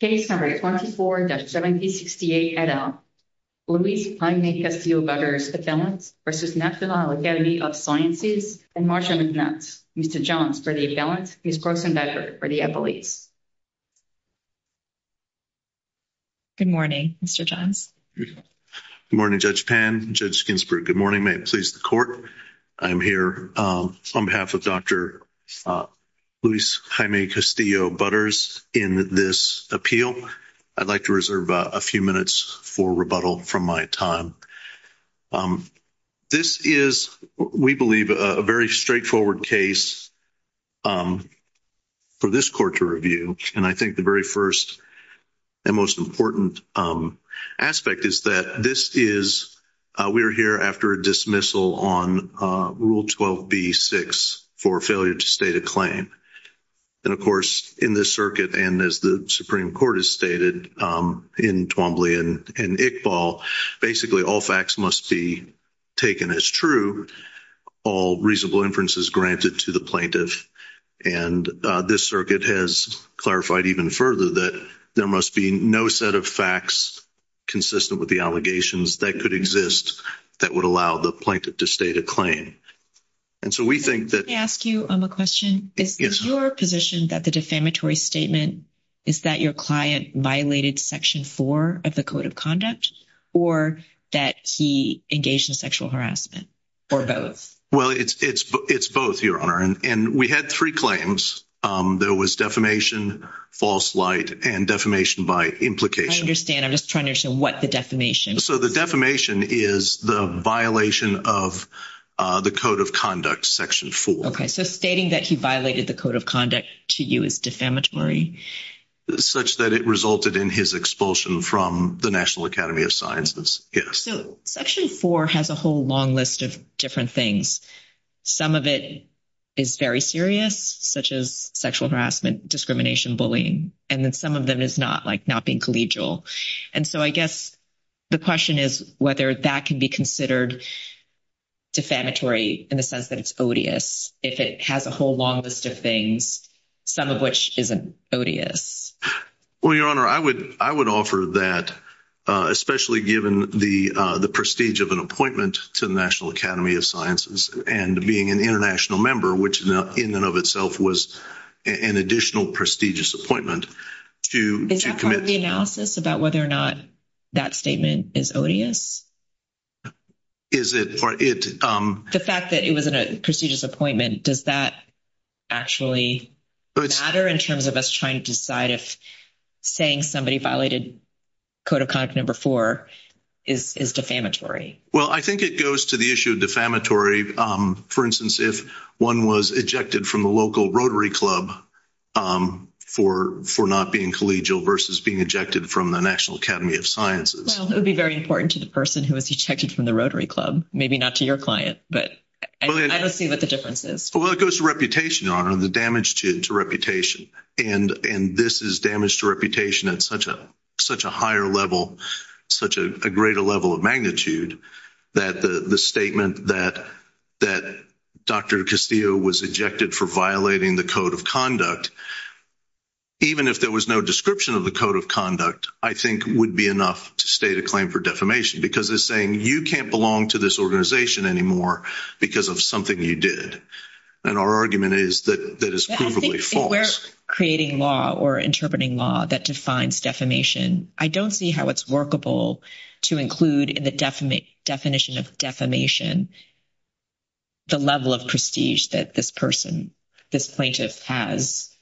Case number 24-1768 et al. Luis Jaime Castillo Butters, Appellant, v. National Academy of Sciences, and Marcia McNutt. Mr. Johns for the Appellant, Ms. Brooks and Becker for the Appellate. Good morning, Mr. Johns. Good morning, Judge Pan, Judge Ginsburg. Good morning. May it please the Court. I'm here on behalf of Dr. Luis Jaime Castillo Butters in this appeal. I'd like to reserve a few minutes for rebuttal from my time. This is, we believe, a very straightforward case for this Court to review. And I think the very first and most important aspect is that this is, we are here after a dismissal on Rule 12b-6 for failure to state a claim. And, of course, in this circuit, and as the Supreme Court has stated in Twombly and Iqbal, basically all facts must be taken as true, all reasonable inferences granted to the plaintiff. And this circuit has clarified even further that there must be no set of facts consistent with the allegations that could exist that would allow the plaintiff to state a claim. And so we think that... Can I ask you a question? Yes. Is your position that the defamatory statement is that your client violated Section 4 of the Code of Conduct or that he engaged in sexual harassment? Or both? Well, it's both, Your Honor. And we had three claims. There was defamation, false light, and defamation by implication. I understand. I'm just trying to understand what the defamation is. So the defamation is the violation of the Code of Conduct, Section 4. Okay. So stating that he violated the Code of Conduct to you is defamatory? Such that it resulted in his expulsion from the National Academy of Sciences. Yes. So Section 4 has a whole long list of different things. Some of it is very serious, such as sexual harassment, discrimination, bullying, and then some of them is not, like, not being collegial. And so I guess the question is whether that can be considered defamatory in the sense that it's odious if it has a whole long list of things, some of which isn't odious. Well, Your Honor, I would offer that, especially given the prestige of an appointment to the National Academy of Sciences and being an international member, which in and of itself was an additional prestigious appointment to commit to that. Is that part of the analysis about whether or not that statement is odious? The fact that it was a prestigious appointment, does that actually matter in terms of us trying to decide if saying somebody violated Code of Conduct Number 4 is defamatory? Well, I think it goes to the issue of defamatory. For instance, if one was ejected from the local Rotary Club for not being collegial versus being ejected from the National Academy of Sciences. Well, it would be very important to the person who was ejected from the Rotary Club. Maybe not to your client, but I don't see what the difference is. Well, it goes to reputation, Your Honor, the damage to reputation. And this is damage to reputation at such a higher level, such a greater level of magnitude that the statement that Dr. Castillo was ejected for violating the Code of Conduct, even if there was no description of the Code of Conduct, I think would be enough to state a claim for defamation because it's saying you can't belong to this organization anymore because of something you did. And our argument is that that is provably false. If we're creating law or interpreting law that defines defamation, I don't see how it's workable to include in the definition of defamation the level of prestige that this person, this plaintiff has,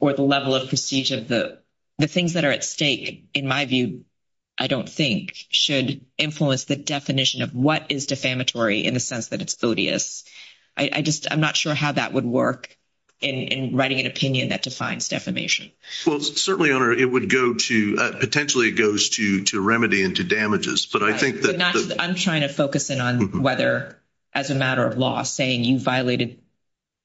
or the level of prestige of the things that are at stake, in my view, I don't think, should influence the definition of what is defamatory in the sense that it's odious. I just I'm not sure how that would work in writing an opinion that defines defamation. Well, certainly, Your Honor, it would go to potentially it goes to remedy and to damages, but I think that I'm trying to focus in on whether, as a matter of law, saying you violated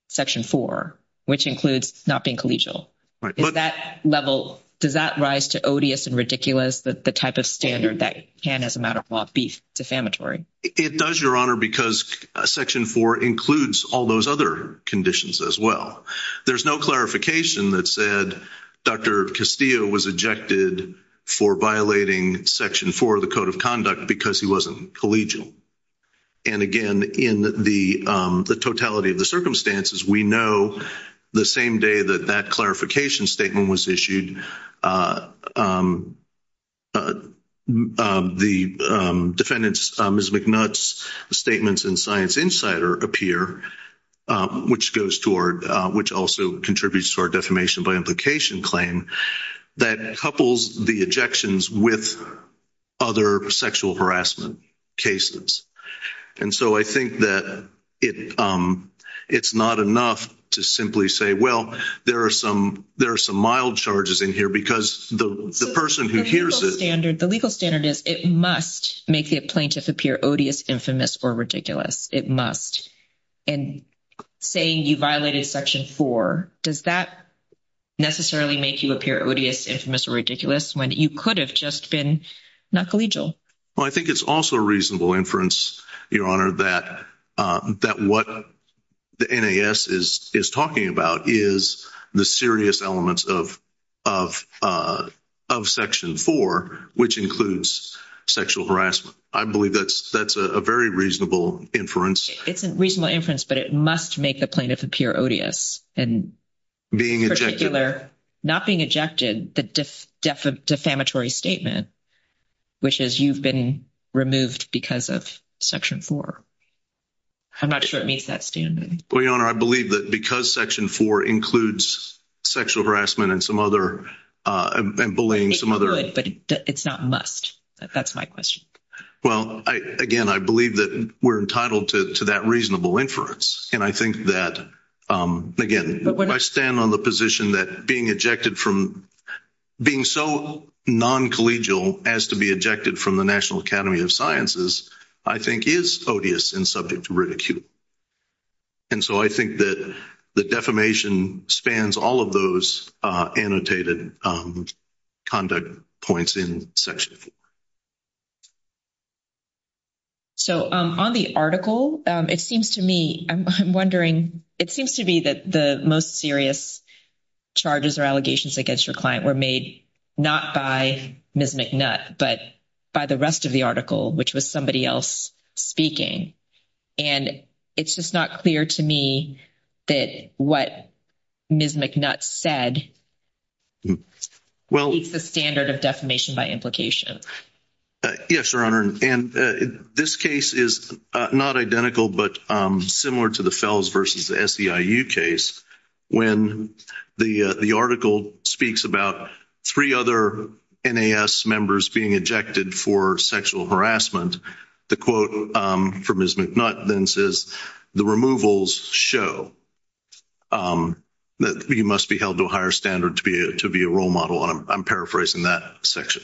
Section 4, which includes not being collegial, right? But that level, does that rise to odious and ridiculous that the type of standard that can, as a matter of law, be defamatory? It does, Your Honor, because Section 4 includes all those other conditions as well. There's no clarification that said Dr. Castillo was ejected for violating Section 4 of the Code of Conduct because he wasn't collegial. And again, in the totality of the circumstances, we know the same day that that clarification statement was issued. The defendants Ms. McNutt's statements in Science Insider appear, which goes toward, which also contributes to our defamation by implication claim that couples the ejections with other sexual harassment cases. And so I think that it, it's not enough to simply say, well, there are some, there are some mild charges included in Section 4 of the Code of Conduct. I'm just saying here because the person who hears the standard, the legal standard is it must make the plaintiff appear odious, infamous, or ridiculous. It must, and saying you violated Section 4, does that necessarily make you appear odious, infamous, or ridiculous when you could have just been not collegial? Well, I think it's also a reasonable inference, Your Honor, that what the NAS is talking about is the serious elements of Section 4, which includes sexual harassment. I believe that's a very reasonable inference. It's a reasonable inference, but it must make the plaintiff appear odious and particular, not being ejected, the defamatory statement. Which is you've been removed because of Section 4. I'm not sure it meets that standard. Well, Your Honor, I believe that because Section 4 includes sexual harassment and some other, and bullying, some other. But it's not must. That's my question. Well, I, again, I believe that we're entitled to that reasonable inference. And I think that, again, I stand on the position that being ejected from, being so non-collegial as to be ejected from the National Academy of Sciences, I think is odious and subject to ridicule. And so I think that the defamation spans all of those annotated conduct points in Section 4. So, on the article, it seems to me, I'm wondering, it seems to me that the most serious charges or allegations against your client were made not by Ms. McNutt, but by the rest of the article, which was somebody else speaking. And it's just not clear to me that what Ms. McNutt said. Well, it's the standard of defamation by implication. Yes, Your Honor, and this case is not identical, but similar to the Fels versus the SEIU case. When the article speaks about 3 other NAS members being ejected for sexual harassment, the quote from Ms. McNutt then says, the removals show. That you must be held to a higher standard to be a role model, and I'm paraphrasing that section.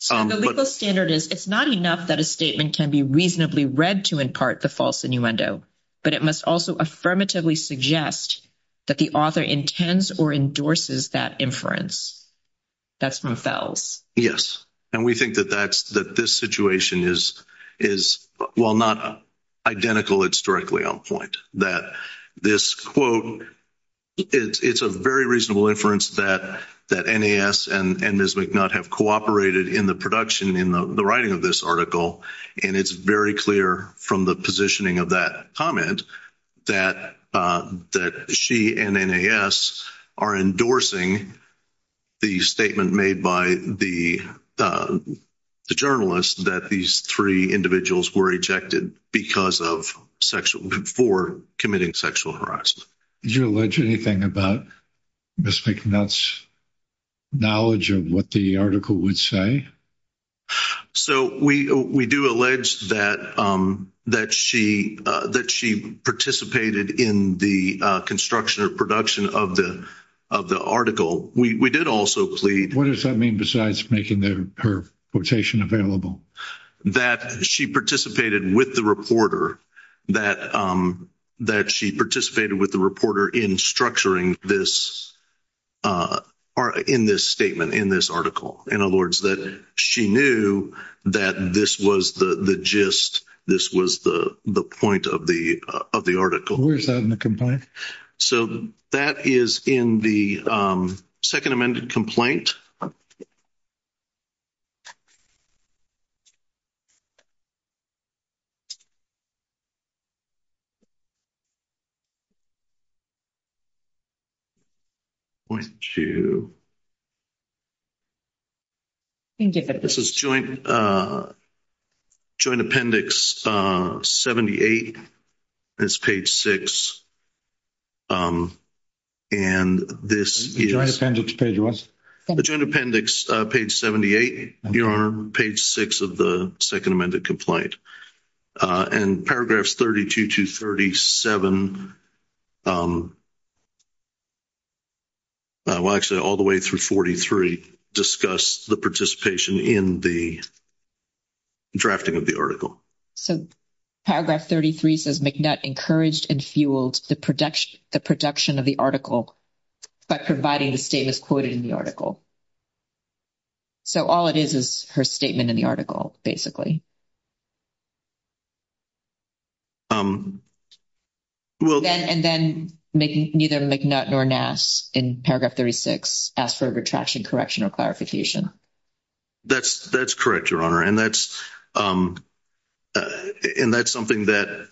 So, the legal standard is, it's not enough that a statement can be reasonably read to impart the false innuendo, but it must also affirmatively suggest that the author intends or endorses that inference. That's from Fels. Yes, and we think that this situation is, while not identical, it's directly on point. That this quote, it's a very reasonable inference that NAS and Ms. McNutt have cooperated in the production, in the writing of this article. And it's very clear from the positioning of that comment that she and NAS are endorsing the statement made by the journalist that these 3 individuals were ejected because of sexual, for committing sexual harassment. Did you allege anything about Ms. McNutt's knowledge of what the article would say? So, we do allege that she participated in the construction or production of the article. We did also plead. What does that mean besides making her quotation available? That she participated with the reporter in structuring this, in this statement, in this article. In other words, that she knew that this was the gist, this was the point of the article. Where is that in the complaint? So, that is in the second amended complaint. Thank you. This is joint. Joint appendix 78. It's page 6. And this is. Joint appendix page what? Joint appendix page 78, your honor. Page 6 of the second amended complaint. And paragraphs 32 to 37. Well, actually all the way through 43 discuss the participation in the drafting of the article. So, paragraph 33 says McNutt encouraged and fueled the production of the article. By providing the statements quoted in the article. So, all it is, is her statement in the article, basically. And then, neither McNutt nor Nass in paragraph 36 asked for a retraction correction or clarification. That's correct, your honor. And that's something that,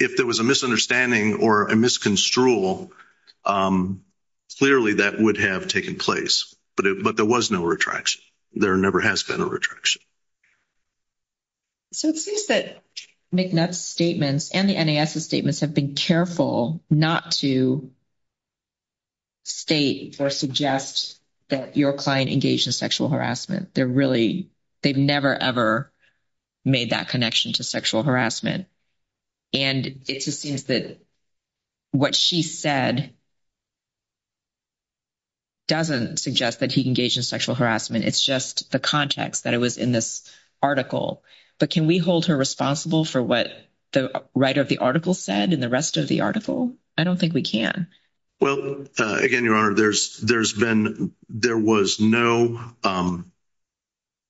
if there was a misunderstanding or a misconstrual, clearly that would have taken place. But there was no retraction. There never has been a retraction. So, it seems that McNutt's statements and the NAS's statements have been careful not to state or suggest that your client engaged in sexual harassment. They're really, they've never, ever made that connection to sexual harassment. And it just seems that what she said doesn't suggest that he engaged in sexual harassment. It's just the context that it was in this article. But can we hold her responsible for what the writer of the article said in the rest of the article? I don't think we can. Well, again, your honor, there's been, there was no,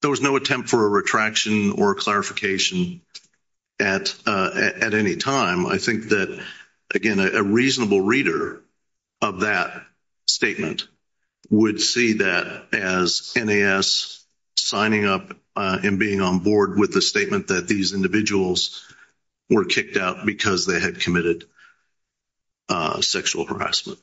there was no attempt for a retraction or clarification at any time. I think that, again, a reasonable reader of that statement would see that as NAS signing up and being on board with the statement that these individuals were kicked out because they had committed sexual harassment.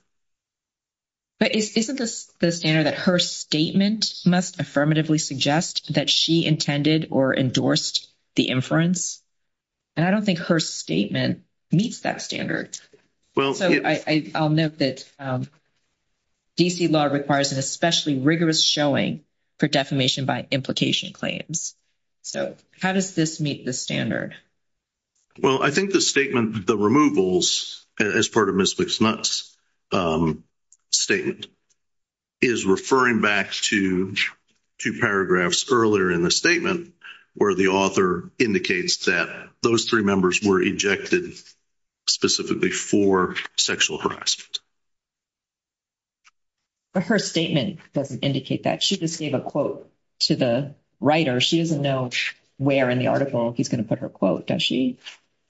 But isn't the standard that her statement must affirmatively suggest that she intended or endorsed the inference? And I don't think her statement meets that standard. So, I'll note that D.C. law requires an especially rigorous showing for defamation by implication claims. So, how does this meet the standard? Well, I think the statement, the removals, as part of Ms. McSnutt's statement, is referring back to two paragraphs earlier in the statement where the author indicates that those three members were ejected specifically for sexual harassment. But her statement doesn't indicate that. She just gave a quote to the writer. She doesn't know where in the article he's going to put her quote, does she?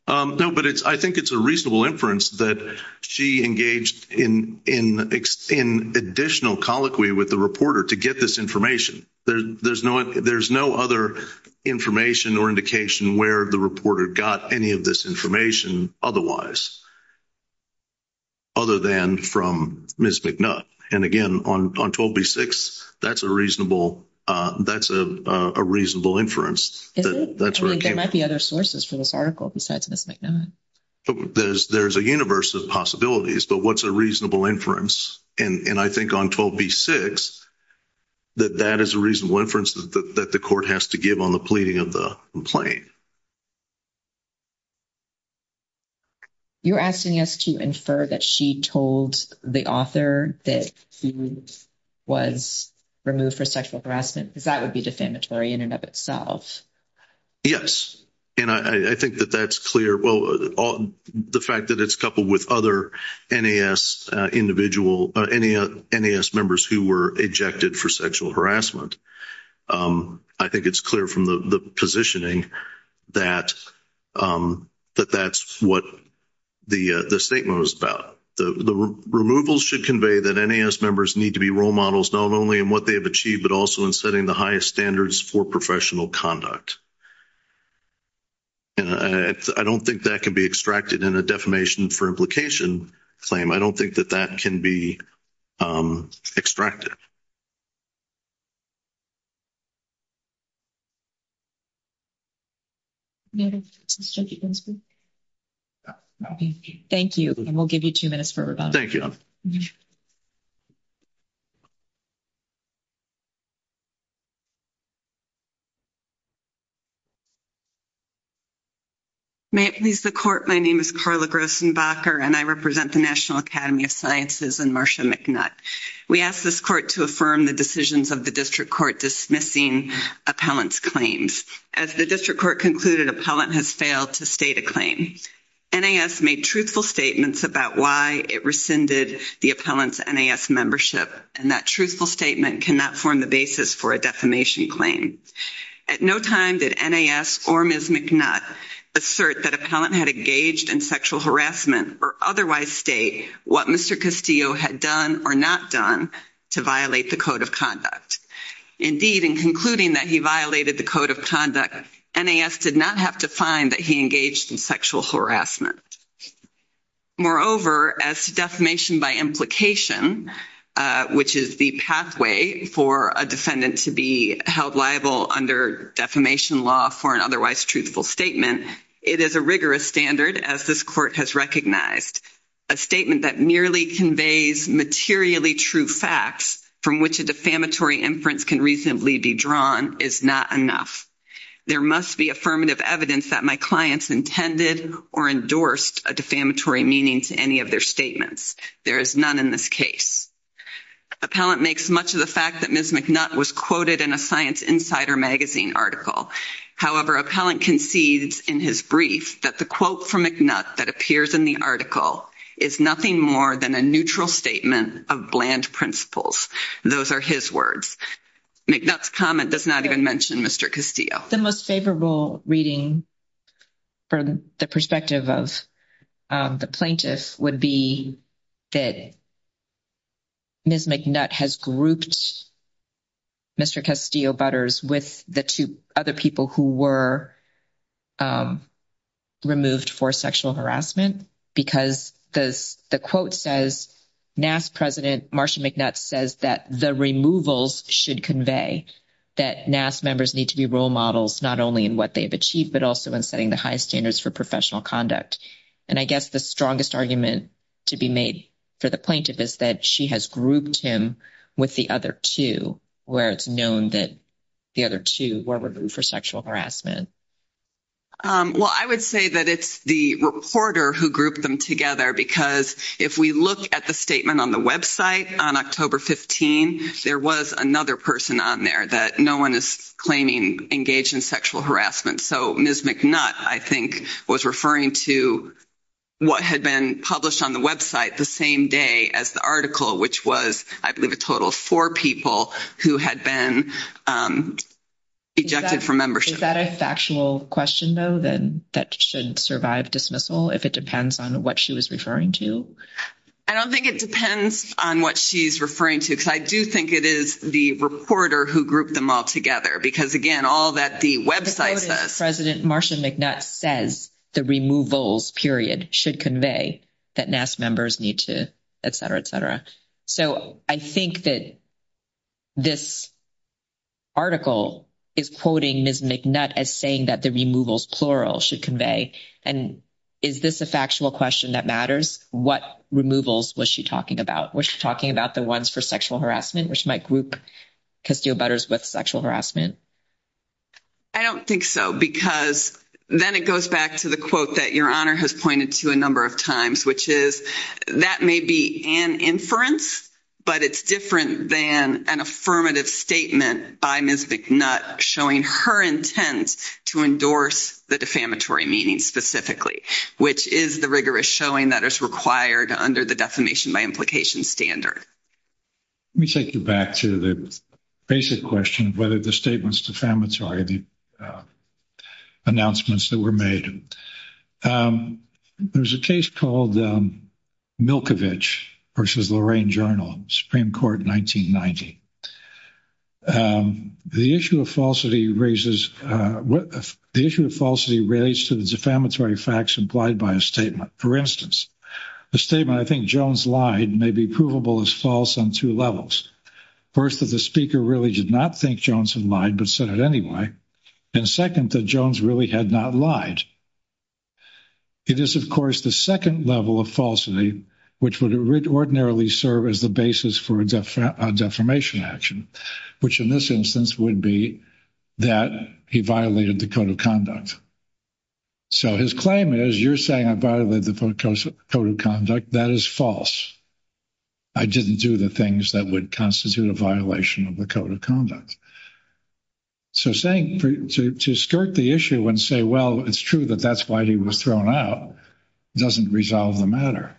No, but I think it's a reasonable inference that she engaged in additional colloquy with the reporter to get this information. There's no other information or indication where the reporter got any of this information otherwise other than from Ms. McSnutt. And again, on 12b-6, that's a reasonable inference. There might be other sources for this article besides Ms. McSnutt. There's a universe of possibilities, but what's a reasonable inference? And I think on 12b-6, that that is a reasonable inference that the court has to give on the pleading of the complaint. You're asking us to infer that she told the author that he was removed for sexual harassment because that would be defamatory in and of itself. Yes. And I think that that's clear. Well, the fact that it's coupled with other NAS members who were ejected for sexual harassment, I think it's clear from the positioning. That that's what the statement was about. The removal should convey that NAS members need to be role models not only in what they have achieved but also in setting the highest standards for professional conduct. And I don't think that can be extracted in a defamation for implication claim. I don't think that that can be extracted. Thank you. And we'll give you two minutes for rebuttal. Thank you. May it please the court. My name is Carla Grossenbacher and I represent the National Academy of Sciences and Marsha McNutt. We ask this court to affirm the decisions of the district court dismissing appellant's claims. As the district court concluded, appellant has failed to state a claim. NAS made truthful statements about why it rescinded the appellant's NAS membership. And that truthful statement cannot form the basis for a defamation claim. At no time did NAS or Ms. McNutt assert that appellant had engaged in sexual harassment or otherwise state what Mr. Castillo had done or not done to violate the code of conduct. Indeed, in concluding that he violated the code of conduct, NAS did not have to find that he engaged in sexual harassment. Moreover, as to defamation by implication, which is the pathway for a defendant to be held liable under defamation law for an otherwise truthful statement, it is a rigorous standard as this court has recognized. A statement that merely conveys materially true facts from which a defamatory inference can reasonably be drawn is not enough. There must be affirmative evidence that my clients intended or endorsed a defamatory meaning to any of their statements. There is none in this case. Appellant makes much of the fact that Ms. McNutt was quoted in a Science Insider magazine article. However, appellant concedes in his brief that the quote from McNutt that appears in the article is nothing more than a neutral statement of bland principles. Those are his words. McNutt's comment does not even mention Mr. Castillo. The most favorable reading from the perspective of the plaintiff would be that Ms. McNutt has grouped Mr. Castillo-Butters with the two other people who were removed for sexual harassment because the quote says Nass president Marsha McNutt says that the removals should convey that Nass members need to be role models not only in what they have achieved but also in setting the highest standards for professional conduct. And I guess the strongest argument to be made for the plaintiff is that she has grouped him with the other two where it's known that the other two were removed for sexual harassment. Well, I would say that it's the reporter who grouped them together because if we look at the statement on the website on October 15, there was another person on there that no one is claiming engaged in sexual harassment. So Ms. McNutt, I think, was referring to what had been published on the website the same day as the article, which was, I believe, a total of four people who had been ejected from membership. Is that a factual question, though, that shouldn't survive dismissal if it depends on what she was referring to? I don't think it depends on what she's referring to because I do think it is the reporter who grouped them all together because, again, all that the website says. President Marsha McNutt says the removals, period, should convey that Nass members need to, et cetera, et cetera. So I think that this article is quoting Ms. McNutt as saying that the removals, plural, should convey. And is this a factual question that matters? What removals was she talking about? Was she talking about the ones for sexual harassment, which might group Castillo-Butters with sexual harassment? I don't think so because then it goes back to the quote that Your Honor has pointed to a number of times, which is that may be an inference, but it's different than an affirmative statement by Ms. McNutt showing her intent to endorse the defamatory meaning specifically, which is the rigorous showing that is required under the defamation by implication standard. Let me take you back to the basic question of whether the statements defamatory, the announcements that were made. There's a case called Milkovich versus Lorraine Journal, Supreme Court, 1990. The issue of falsity raises, the issue of falsity relates to the defamatory facts implied by a statement. For instance, the statement, I think Jones lied, may be provable as false on two levels. First, that the speaker really did not think Jones had lied, but said it anyway. And second, that Jones really had not lied. It is, of course, the second level of falsity, which would ordinarily serve as the basis for a defamation action, which in this instance would be that he violated the code of conduct. So his claim is, you're saying I violated the code of conduct, that is false. I didn't do the things that would constitute a violation of the code of conduct. So saying, to skirt the issue and say, well, it's true that that's why he was thrown out, doesn't resolve the matter.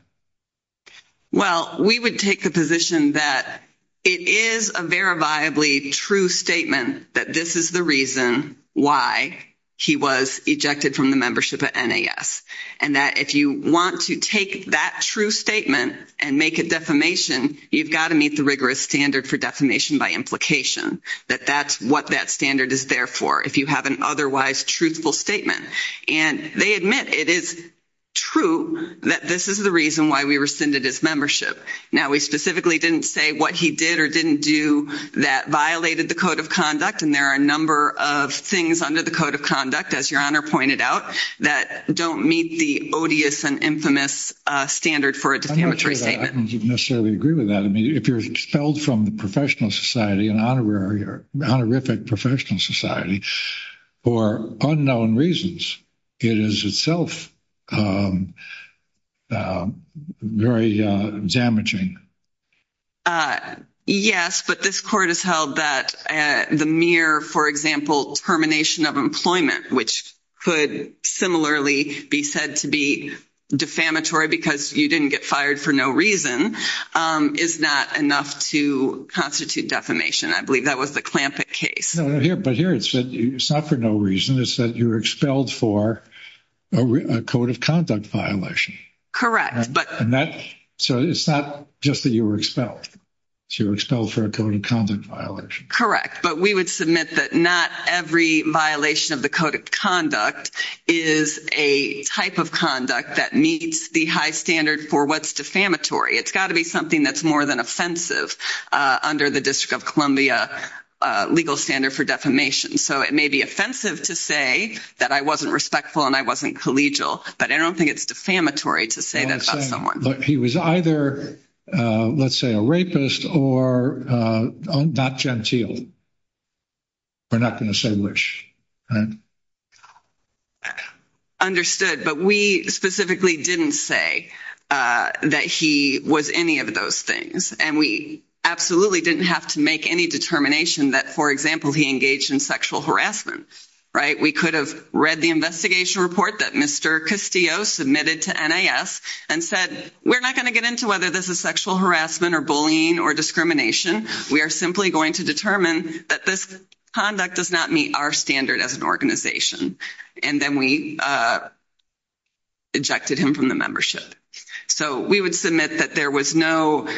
Well, we would take the position that it is a verifiably true statement that this is the reason why he was ejected from the membership at NAS. And that if you want to take that true statement and make a defamation, you've got to meet the rigorous standard for defamation by implication. That that's what that standard is there for, if you have an otherwise truthful statement. And they admit it is true that this is the reason why we rescinded his membership. Now, we specifically didn't say what he did or didn't do that violated the code of conduct. And there are a number of things under the code of conduct, as Your Honor pointed out, that don't meet the odious and infamous standard for a defamatory statement. I don't necessarily agree with that. If you're expelled from the professional society, an honorary or honorific professional society, for unknown reasons, it is itself very damaging. Yes, but this court has held that the mere, for example, termination of employment, which could similarly be said to be defamatory because you didn't get fired for no reason, is not enough to constitute defamation. I believe that was the Clampett case. No, but here it said it's not for no reason. It said you were expelled for a code of conduct violation. Correct. So it's not just that you were expelled. You were expelled for a code of conduct violation. Correct, but we would submit that not every violation of the code of conduct is a type of conduct that meets the high standard for what's defamatory. It's got to be something that's more than offensive under the District of Columbia legal standard for defamation. So it may be offensive to say that I wasn't respectful and I wasn't collegial, but I don't think it's defamatory to say that about someone. He was either, let's say, a rapist or not genteel. We're not going to say which. Understood, but we specifically didn't say that he was any of those things, and we absolutely didn't have to make any determination that, for example, he engaged in sexual harassment. We could have read the investigation report that Mr. Castillo submitted to NAS and said, we're not going to get into whether this is sexual harassment or bullying or discrimination. We are simply going to determine that this conduct does not meet our standard as an organization. And then we ejected him from the membership. So we would submit that there was no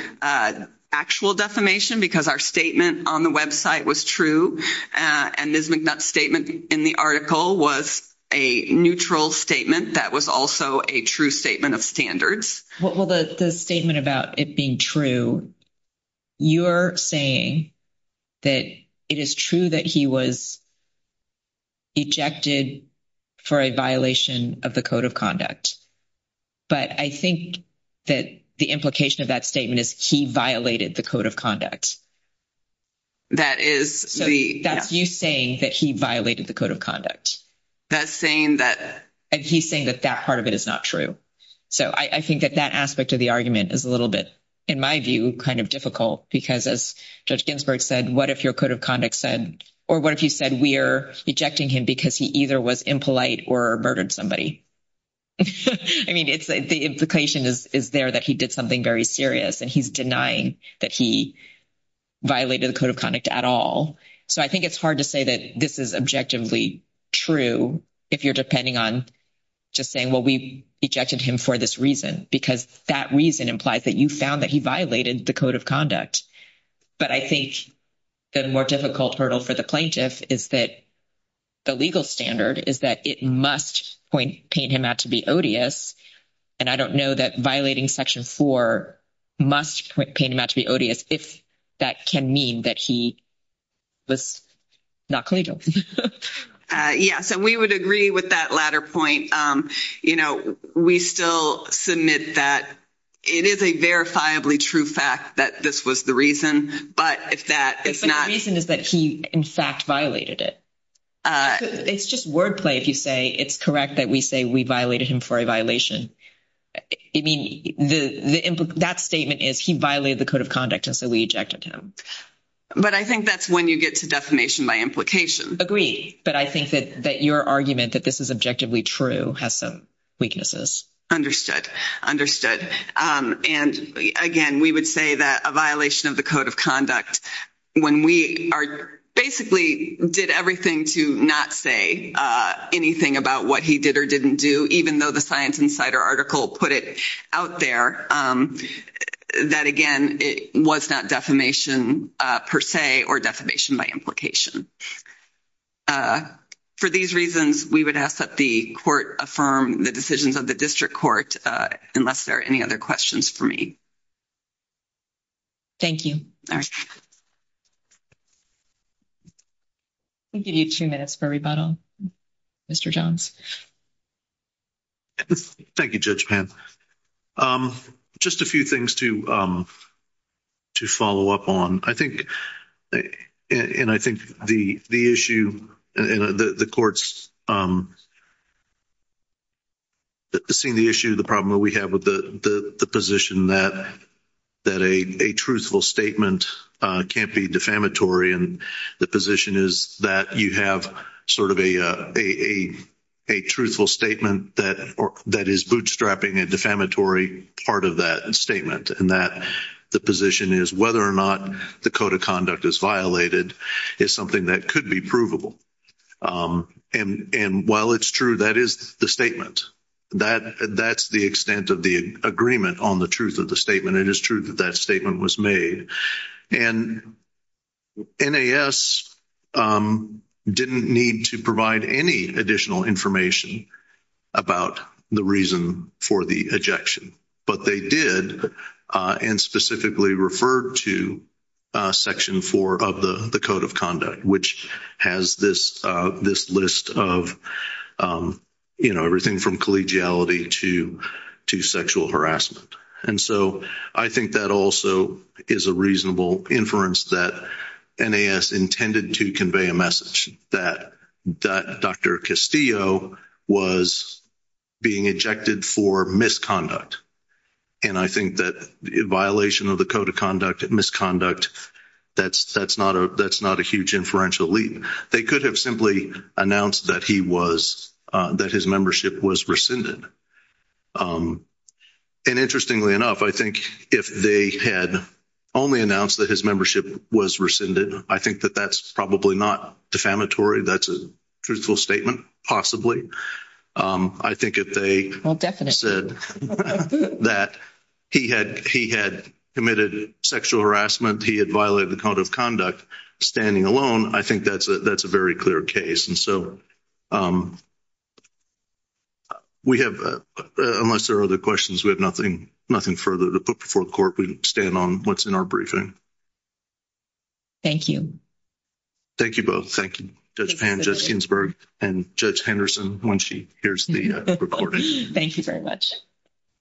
actual defamation because our statement on the website was true. And Ms. McNutt's statement in the article was a neutral statement that was also a true statement of standards. Well, the statement about it being true, you're saying that it is true that he was ejected for a violation of the Code of Conduct. But I think that the implication of that statement is he violated the Code of Conduct. So that's you saying that he violated the Code of Conduct. And he's saying that that part of it is not true. So I think that that aspect of the argument is a little bit, in my view, kind of difficult. Because as Judge Ginsburg said, what if your Code of Conduct said, or what if you said we're ejecting him because he either was impolite or murdered somebody? I mean, the implication is there that he did something very serious. And he's denying that he violated the Code of Conduct at all. So I think it's hard to say that this is objectively true if you're depending on just saying, well, we ejected him for this reason. Because that reason implies that you found that he violated the Code of Conduct. But I think the more difficult hurdle for the plaintiff is that the legal standard is that it must point him out to be odious. And I don't know that violating Section 4 must point him out to be odious if that can mean that he was not collegial. Yeah. So we would agree with that latter point. We still submit that it is a verifiably true fact that this was the reason. But if that is not... But the reason is that he, in fact, violated it. It's just wordplay if you say it's correct that we say we violated him for a violation. I mean, that statement is he violated the Code of Conduct and so we ejected him. But I think that's when you get to defamation by implication. Agreed. But I think that your argument that this is objectively true has some weaknesses. Understood. Understood. And, again, we would say that a violation of the Code of Conduct when we basically did everything to not say anything about what he did or didn't do, even though the Science Insider article put it out there, that, again, it was not defamation per se or defamation by implication. For these reasons, we would ask that the Court affirm the decisions of the District Court unless there are any other questions for me. Thank you. All right. We'll give you two minutes for rebuttal, Mr. Jones. Thank you, Judge Pan. Just a few things to follow up on. I think the issue, and the Court's seen the issue, the problem that we have with the position that a truthful statement can't be defamatory. And the position is that you have sort of a truthful statement that is bootstrapping a defamatory part of that statement. And that the position is whether or not the Code of Conduct is violated is something that could be provable. And while it's true, that is the statement. That's the extent of the agreement on the truth of the statement. It is true that that statement was made. And NAS didn't need to provide any additional information about the reason for the ejection. But they did, and specifically referred to Section 4 of the Code of Conduct, which has this list of, you know, everything from collegiality to sexual harassment. And so, I think that also is a reasonable inference that NAS intended to convey a message. That Dr. Castillo was being ejected for misconduct. And I think that violation of the Code of Conduct, misconduct, that's not a huge inferential leap. They could have simply announced that he was, that his membership was rescinded. And interestingly enough, I think if they had only announced that his membership was rescinded, I think that that's probably not defamatory. That's a truthful statement, possibly. I think if they said that he had committed sexual harassment, he had violated the Code of Conduct standing alone, I think that's a very clear case. And so, we have, unless there are other questions, we have nothing further to put before the Court. We stand on what's in our briefing. Thank you. Thank you both. Thank you, Judge Pan, Judge Ginsburg, and Judge Henderson, when she hears the recording. Thank you very much.